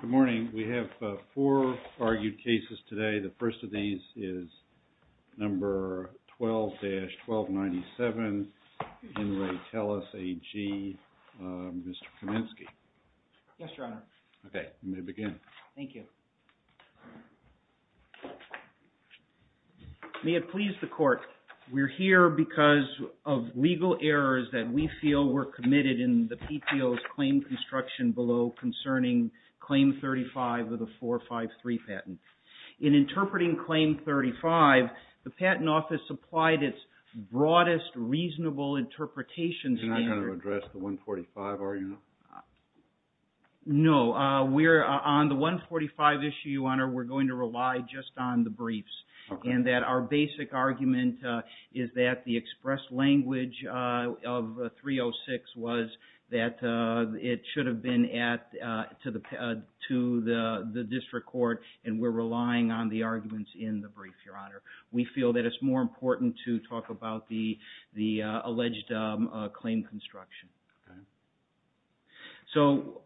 Good morning. We have four argued cases today. The first of these is number 12-1297, N. Ray Teles AG. Mr. Kaminsky. Yes, Your Honor. Okay, you may begin. Thank you. May it please the court, we're here because of legal errors that we feel were committed in the PTO's claim reconstruction below concerning Claim 35 of the 453 patent. In interpreting Claim 35, the Patent Office applied its broadest reasonable interpretation standard. You're not going to address the 145 are you now? No, on the 145 issue, Your Honor, we're going to rely just on the briefs and that our basic argument is that the expressed language of 306 was that it should have been to the district court and we're relying on the arguments in the brief, Your Honor. We feel that it's more important to talk about the alleged claim construction. So,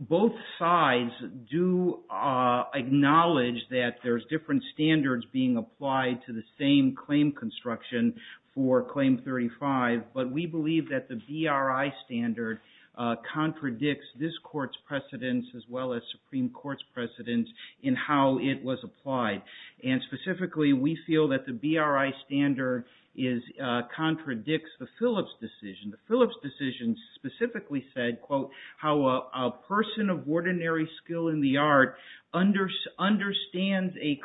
both sides do acknowledge that there's different standards being applied to the same claim construction for Claim 35, but we believe that the BRI standard contradicts this court's precedence as well as Supreme Court's precedence in how it was applied. And specifically, we feel that the BRI standard contradicts the Phillips decision. The Phillips decision specifically said, quote, how a person of ordinary skill in the art understands a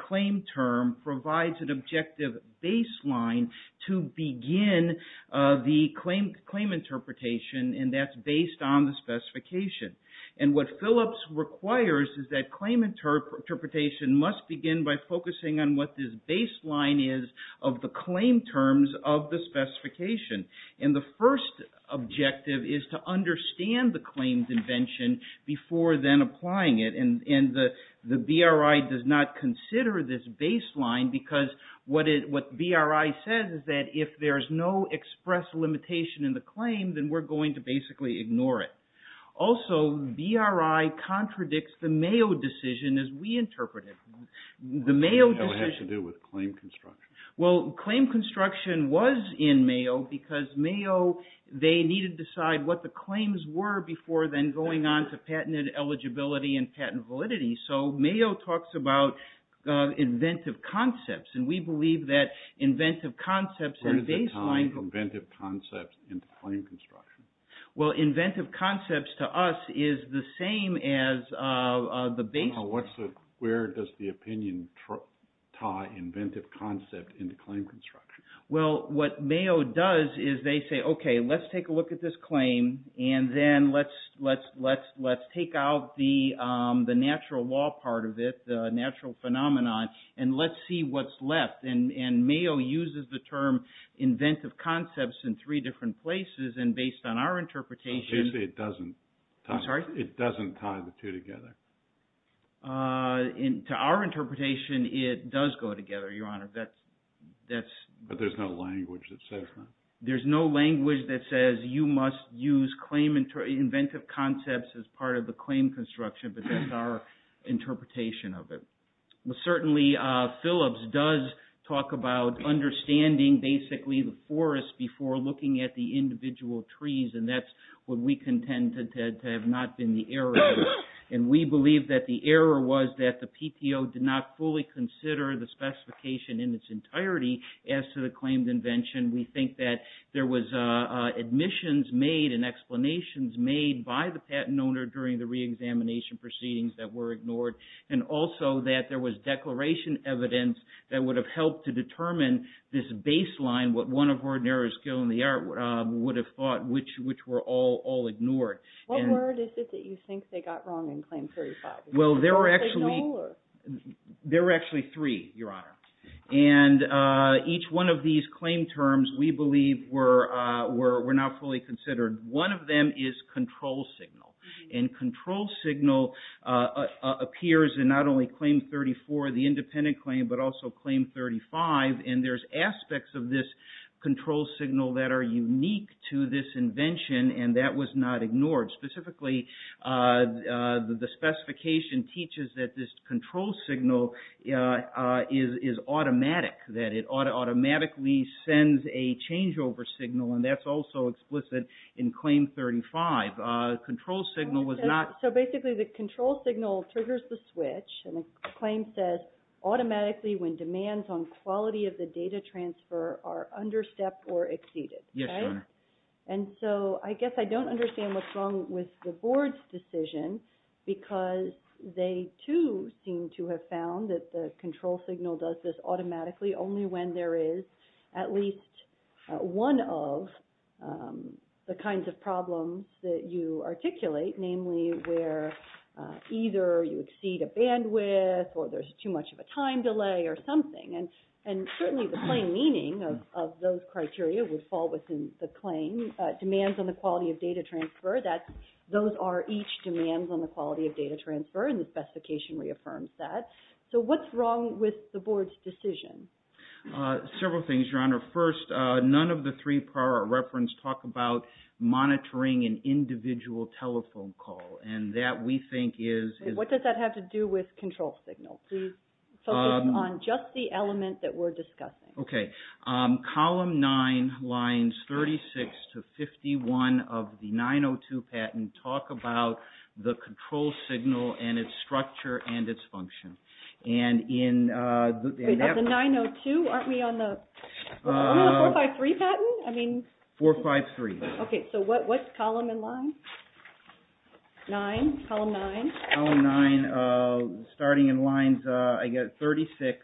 objective baseline to begin the claim interpretation and that's based on the specification. And what Phillips requires is that claim interpretation must begin by focusing on what this baseline is of the claim terms of the specification. And the first objective is to understand the claim's invention before then applying it. And the BRI does not consider this baseline because what BRI says is that if there's no expressed limitation in the claim, then we're going to basically ignore it. Also, BRI contradicts the Mayo decision as we interpret it. The Mayo decision... It has to do with claim construction. Well, claim construction was in Mayo because Mayo, they needed to decide what the claims were before then going on to patent eligibility and patent validity. So, Mayo talks about inventive concepts and we believe that inventive concepts and baseline... Where does it tie inventive concepts into claim construction? Well, inventive concepts to us is the same as the baseline. Where does the opinion tie inventive concept into claim construction? Well, what Mayo does is they say, okay, let's take a look at this claim and then let's take out the natural law part of it, the natural phenomenon, and let's see what's left. And Mayo uses the term inventive concepts in three different places. And based on our interpretation... It doesn't tie the two together. To our interpretation, it does go together, Your Honor. But there's no language that says... There's no language that says you must use inventive concepts as part of the claim construction, but that's our interpretation of it. Certainly, Phillips does talk about understanding basically the forest before looking at the individual trees, and that's what we contend to have not been the error. And we believe that the error was that the PTO did not fully consider the specification in its that there was admissions made and explanations made by the patent owner during the reexamination proceedings that were ignored, and also that there was declaration evidence that would have helped to determine this baseline, what one of our narrow skill in the art would have thought, which were all ignored. What word is it that you think they got wrong in Claim 35? Well, there were actually three, Your Honor. And each one of these claim terms, we believe, were not fully considered. One of them is control signal. And control signal appears in not only Claim 34, the independent claim, but also Claim 35. And there's aspects of this control signal that are unique to this invention, and that was not ignored. Specifically, the specification teaches that this control signal is automatic, that it automatically sends a changeover signal, and that's also explicit in Claim 35. Control signal was not... So basically, the control signal triggers the switch, and the claim says, automatically when demands on quality of the data transfer are understepped or exceeded. Yes, Your Honor. And so I guess I don't understand what's wrong with the Board's decision, because they too seem to have found that the control signal does this automatically only when there is at least one of the kinds of problems that you articulate, namely where either you exceed a bandwidth or there's too much of a time delay or something. And certainly the plain meaning of those criteria would fall within the claim. Demands on the quality of data transfer, those are each demands on the quality of data transfer, and the specification reaffirms that. So what's wrong with the Board's decision? Several things, Your Honor. First, none of the three prior I referenced talk about monitoring an individual telephone call. And that, we think, is... What does that have to do with control signal? Focus on just the element that we're discussing. Okay. Column 9, lines 36 to 51 of the 902 patent talk about the control signal and its structure and its function. And in that... Wait, that's the 902? Aren't we on the 453 patent? 453. Okay, so what's column and line? 9, column 9. Starting in lines, I guess, 36.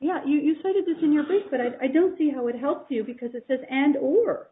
Yeah, you cited this in your brief, but I don't see how it helps you because it says and or.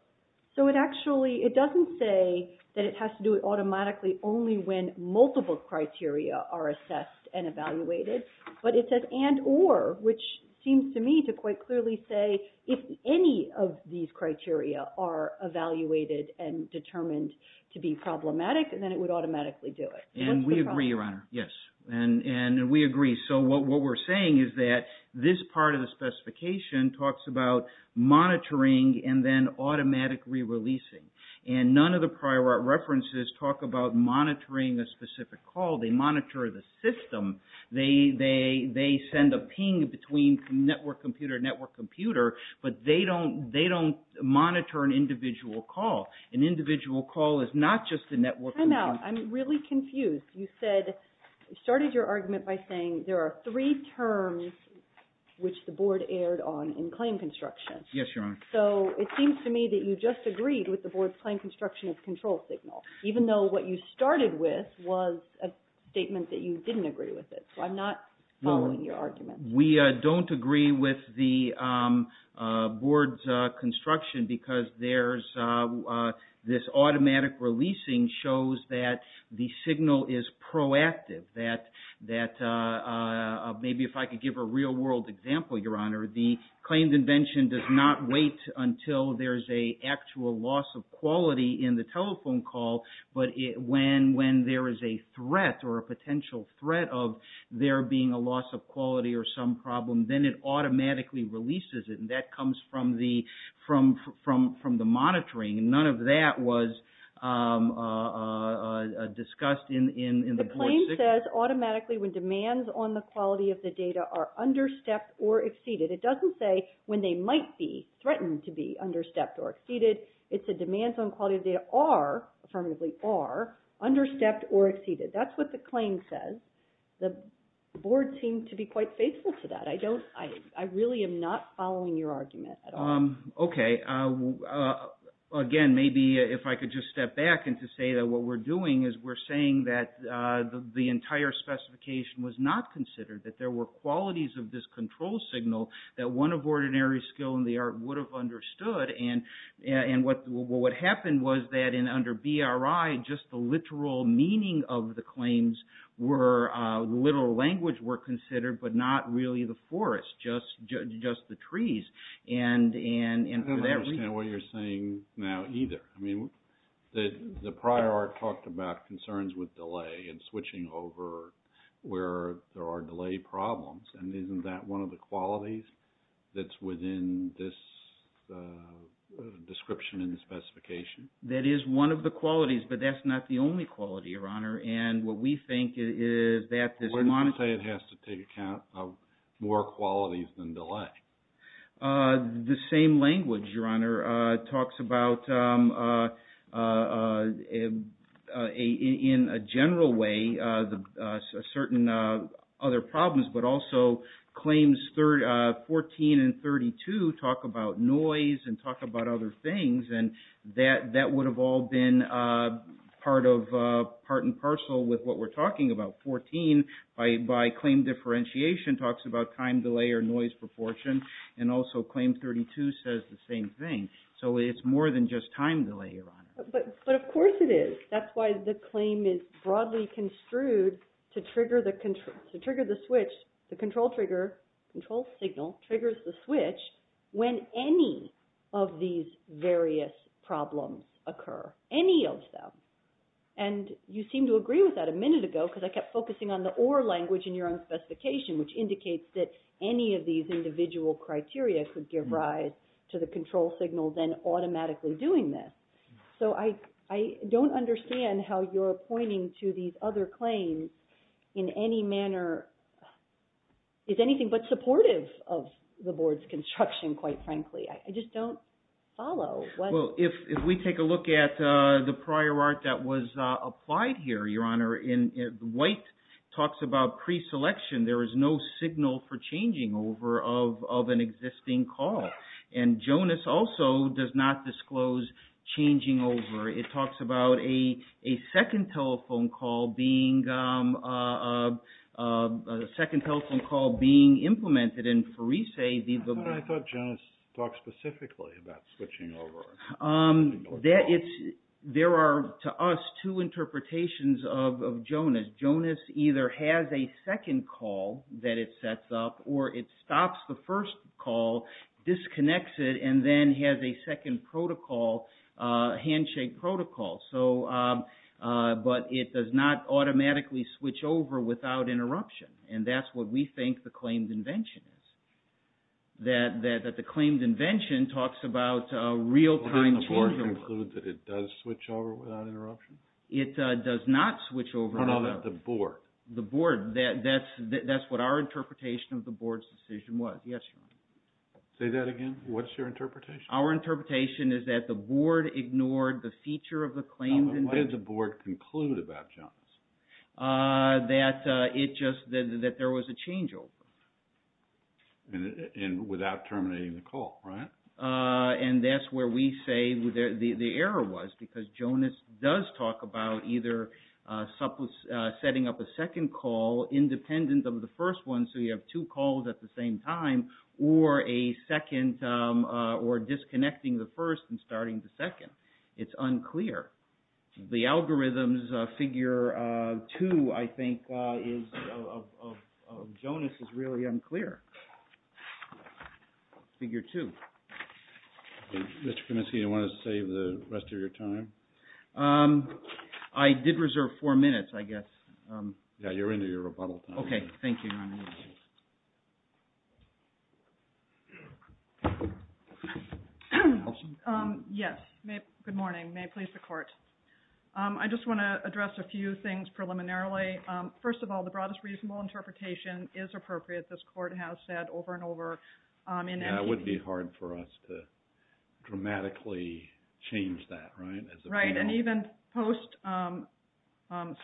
So it actually, it doesn't say that it has to do it automatically only when multiple criteria are assessed and evaluated. But it says and or, which seems to me to quite clearly say if any of these criteria are evaluated and determined to be problematic, then it would automatically do it. And we agree, Your Honor. Yes. And we agree. So what we're saying is that this part of the specification talks about monitoring and then automatic re-releasing. And none of the prior references talk about monitoring a specific call. They monitor the system. They send a ping between network computer and network computer, but they don't monitor an individual call. An individual call is not just a network... Time out. I'm really confused. You said, you started your argument by saying there are three terms which the board erred on in claim construction. Yes, Your Honor. So it seems to me that you just agreed with the board's claim construction of control signal, even though what you started with was a statement that you didn't agree with it. So I'm not following your argument. We don't agree with the board's construction because this automatic releasing shows that the signal is proactive, that maybe if I could give a real-world example, Your Honor, the claimed invention does not wait until there's an actual loss of quality in the telephone call, but when there is a threat or a potential threat of there being a loss of quality or some problem, then it automatically releases it, and that comes from the monitoring. None of that was discussed in the board's... The claim says automatically when demands on the quality of the data are understepped or exceeded. It doesn't say when they might be threatened to be understepped or exceeded. It's a demands on quality of data are, affirmatively are, understepped or exceeded. That's what the claim says. The board seemed to be quite faithful to that. I really am not following your argument at all. Okay. Again, maybe if I could just step back and to say that what we're doing is we're saying that the entire specification was not considered, that there were qualities of this control signal that one of ordinary skill in the art would have understood and what happened was that under BRI, just the literal meaning of the claims were, the literal language were considered, but not really the forest, just the trees, and for that reason... I don't understand what you're saying now either. I mean, the prior art talked about concerns with delay and switching over where there are delay problems, and isn't that one of the qualities that's within this description in the specification? That is one of the qualities, but that's not the only quality, Your Honor, and what we think is that this monitor... Why did you say it has to take account of more qualities than delay? The same language, Your Honor, talks about, in a general way, certain other problems, but also claims 14 and 32 talk about noise and talk about other things, and that would have all been part and parcel with what we're talking about. 14, by claim differentiation, talks about time delay or noise proportion, and also claim 32 says the same thing, so it's more than just time delay, Your Honor. But of course it is. That's why the claim is broadly construed to trigger the switch, the control signal triggers the switch when any of these various problems occur, any of them, and you seem to agree with that a minute ago, because I kept focusing on the or language in your own specification, which indicates that any of these individual criteria could give rise to the control signal then automatically doing this. So I don't understand how you're pointing to these other claims in any manner. It's anything but supportive of the Board's construction, quite frankly. I just don't follow. Well, if we take a look at the prior art that was applied here, Your Honor, White talks about pre-selection. There is no signal for changing over of an existing call, and Jonas also does not disclose changing over. It talks about a second telephone call being implemented, I thought Jonas talked specifically about switching over. There are, to us, two interpretations of Jonas. Jonas either has a second call that it sets up, or it stops the first call, disconnects it, and then has a second protocol, handshake protocol. But it does not automatically switch over without interruption, and that's what we think the claimed invention is. That the claimed invention talks about real-time changeover. Didn't the Board conclude that it does switch over without interruption? It does not switch over. No, no, the Board. The Board. That's what our interpretation of the Board's decision was. Yes, Your Honor. Say that again. What's your interpretation? Our interpretation is that the Board ignored the feature of the claimed invention. What did the Board conclude about Jonas? That it just, that there was a changeover. And without terminating the call, right? And that's where we say the error was, because Jonas does talk about either setting up a second call independent of the first one, so you have two calls at the same time, or a second, or disconnecting the first and starting the second. It's unclear. The algorithm's figure two, I think, of Jonas is really unclear. Figure two. Mr. Penisky, do you want to save the rest of your time? I did reserve four minutes, I guess. Yeah, you're into your rebuttal time. Okay, thank you, Your Honor. Yes, good morning. May it please the Court. I just want to address a few things preliminarily. First of all, the broadest reasonable interpretation is appropriate. This Court has said over and over in... Yeah, it would be hard for us to dramatically change that, right? Right, and even post,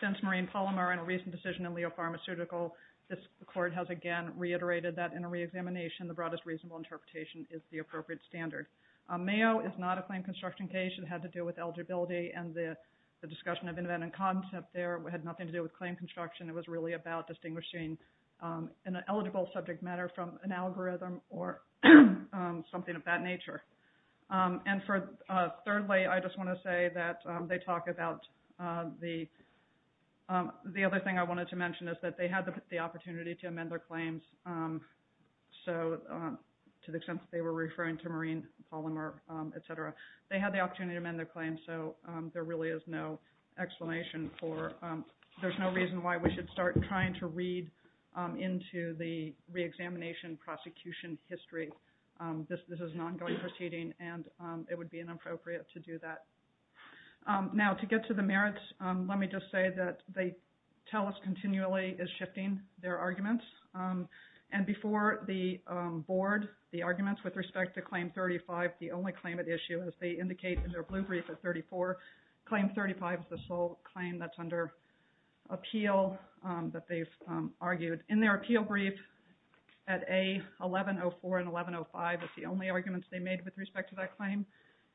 since Marine Polymer and a recent decision in Leo Pharmaceutical, this Court has again reiterated that in a reexamination, the broadest reasonable interpretation is the appropriate standard. Mayo is not a claim construction case. It had to do with eligibility, and the discussion of inventing concept there had nothing to do with claim construction. It was really about distinguishing an eligible subject matter from an algorithm or something of that nature. And thirdly, I just want to say that they talk about the... The other thing I wanted to mention is that they had the opportunity to amend their claims, so to the extent that they were referring to Marine Polymer, et cetera, they had the opportunity to amend their claims, so there really is no explanation for... There's no reason why we should start trying to read into the reexamination prosecution history. This is an ongoing proceeding, and it would be inappropriate to do that. Now, to get to the merits, let me just say that they tell us continually is shifting their arguments, and before the Board, the arguments with respect to Claim 35, the only claim at issue, as they indicate in their blue brief at 34, Claim 35 is the sole claim that's under appeal that they've argued. In their appeal brief at A1104 and A1105, it's the only arguments they made with respect to that claim,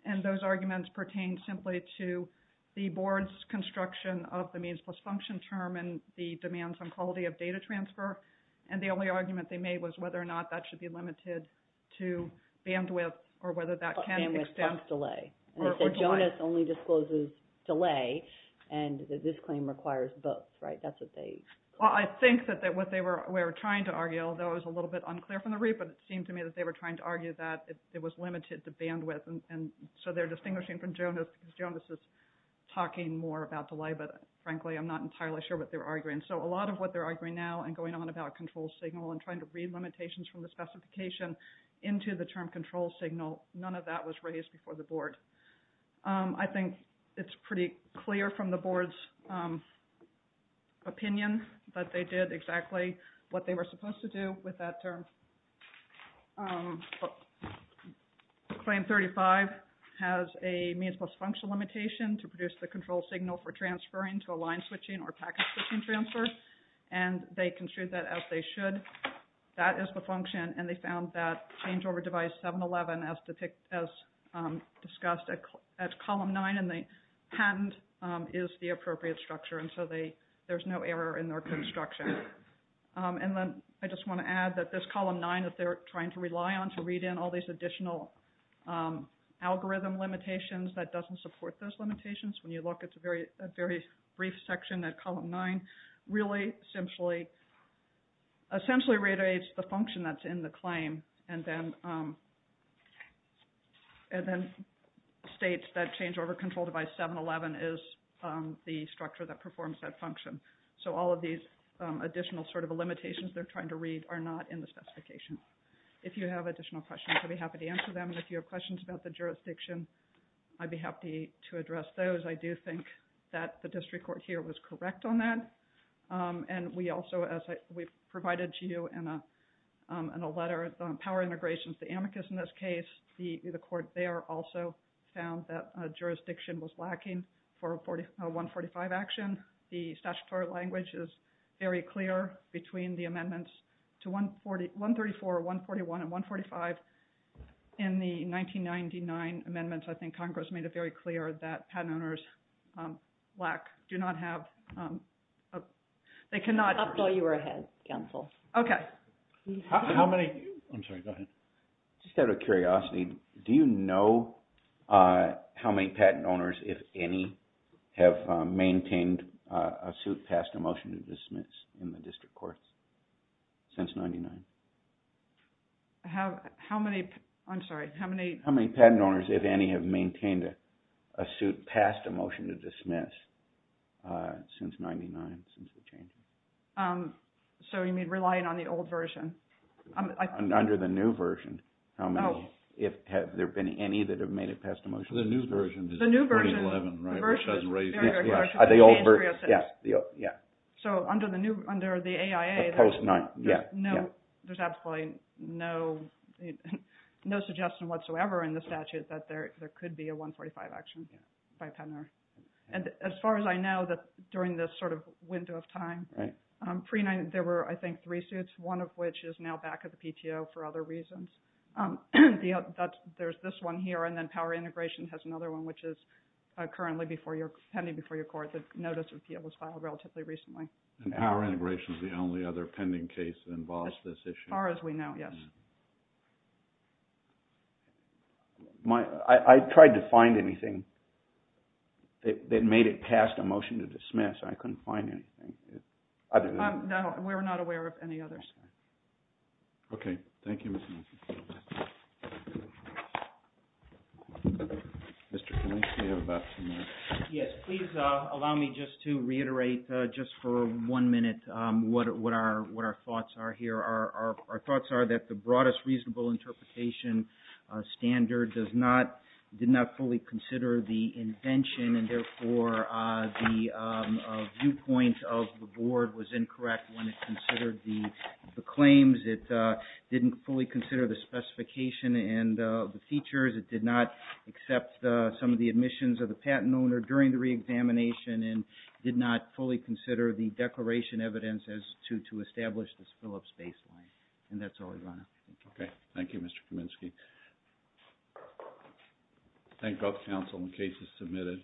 and those arguments pertain simply to the Board's construction of the means plus function term and the demands on quality of data transfer, and the only argument they made was whether or not that should be limited to bandwidth or whether that can extend... Bandwidth plus delay. Or delay. And they said Jonas only discloses delay, and this claim requires both, right? That's what they... Well, I think that what they were trying to argue, although it was a little bit unclear from the read, but it seemed to me that they were trying to argue that it was limited to bandwidth, and so they're distinguishing from Jonas because Jonas is talking more about delay, but frankly I'm not entirely sure what they're arguing. So a lot of what they're arguing now and going on about control signal and trying to read limitations from the specification into the term control signal, none of that was raised before the Board. I think it's pretty clear from the Board's opinion that they did exactly what they were supposed to do with that term. Claim 35 has a means plus function limitation to produce the control signal for transferring to a line switching or packet switching transfer, and they construed that as they should. That is the function, and they found that change over device 711 as discussed at column 9 in the patent is the appropriate structure, and so there's no error in their construction. And then I just want to add that this column 9 that they're trying to rely on to read in all these additional algorithm limitations that doesn't support those limitations, when you look it's a very brief section at column 9, really essentially reiterates the function that's in the claim, and then states that change over control device 711 is the structure that performs that function. So all of these additional sort of limitations they're trying to read are not in the specification. If you have additional questions, I'd be happy to answer them. If you have questions about the jurisdiction, I'd be happy to address those. I do think that the district court here was correct on that, and we also, as we provided to you in a letter on power integrations, the amicus in this case, the court there also found that jurisdiction was lacking for 145 action. The statutory language is very clear between the amendments to 134, 141, and 145. In the 1999 amendments, I think Congress made it very clear that patent owners lack, do not have, they cannot. I thought you were ahead, counsel. Okay. How many, I'm sorry, go ahead. Just out of curiosity, do you know how many patent owners, if any, have maintained a suit passed a motion to dismiss in the district courts since 99? How many, I'm sorry, how many? How many patent owners, if any, have maintained a suit passed a motion to dismiss since 99, since the changes? So you mean relying on the old version? Under the new version, how many? Oh. Have there been any that have made it passed a motion to dismiss? The new version. The new version. The new version is 2011, right, which has raised. The old version, yeah, yeah. So under the new, under the AIA. Yeah, yeah. There's absolutely no suggestion whatsoever in the statute that there could be a 145 action by a patent owner. And as far as I know, that during this sort of window of time. Right. There were, I think, three suits, one of which is now back at the PTO for other reasons. There's this one here, and then power integration has another one, which is currently pending before your court. The notice of appeal was filed relatively recently. And power integration is the only other pending case that involves this issue. As far as we know, yes. I tried to find anything that made it passed a motion to dismiss. I couldn't find anything. Other than that. No, we're not aware of any others. Okay. Thank you, Ms. Nelson. Mr. Kline, you have about ten minutes. Yes, please allow me just to reiterate just for one minute what our thoughts are here. Our thoughts are that the broadest reasonable interpretation standard does not, did not fully consider the invention. And therefore, the viewpoint of the board was incorrect when it considered the claims. It didn't fully consider the specification and the features. It did not accept some of the admissions of the patent owner during the reexamination, and did not fully consider the declaration evidence as to establish the Phillips baseline. And that's all I have. Okay. Thank you, Mr. Kaminsky. Thank both counsel and cases submitted.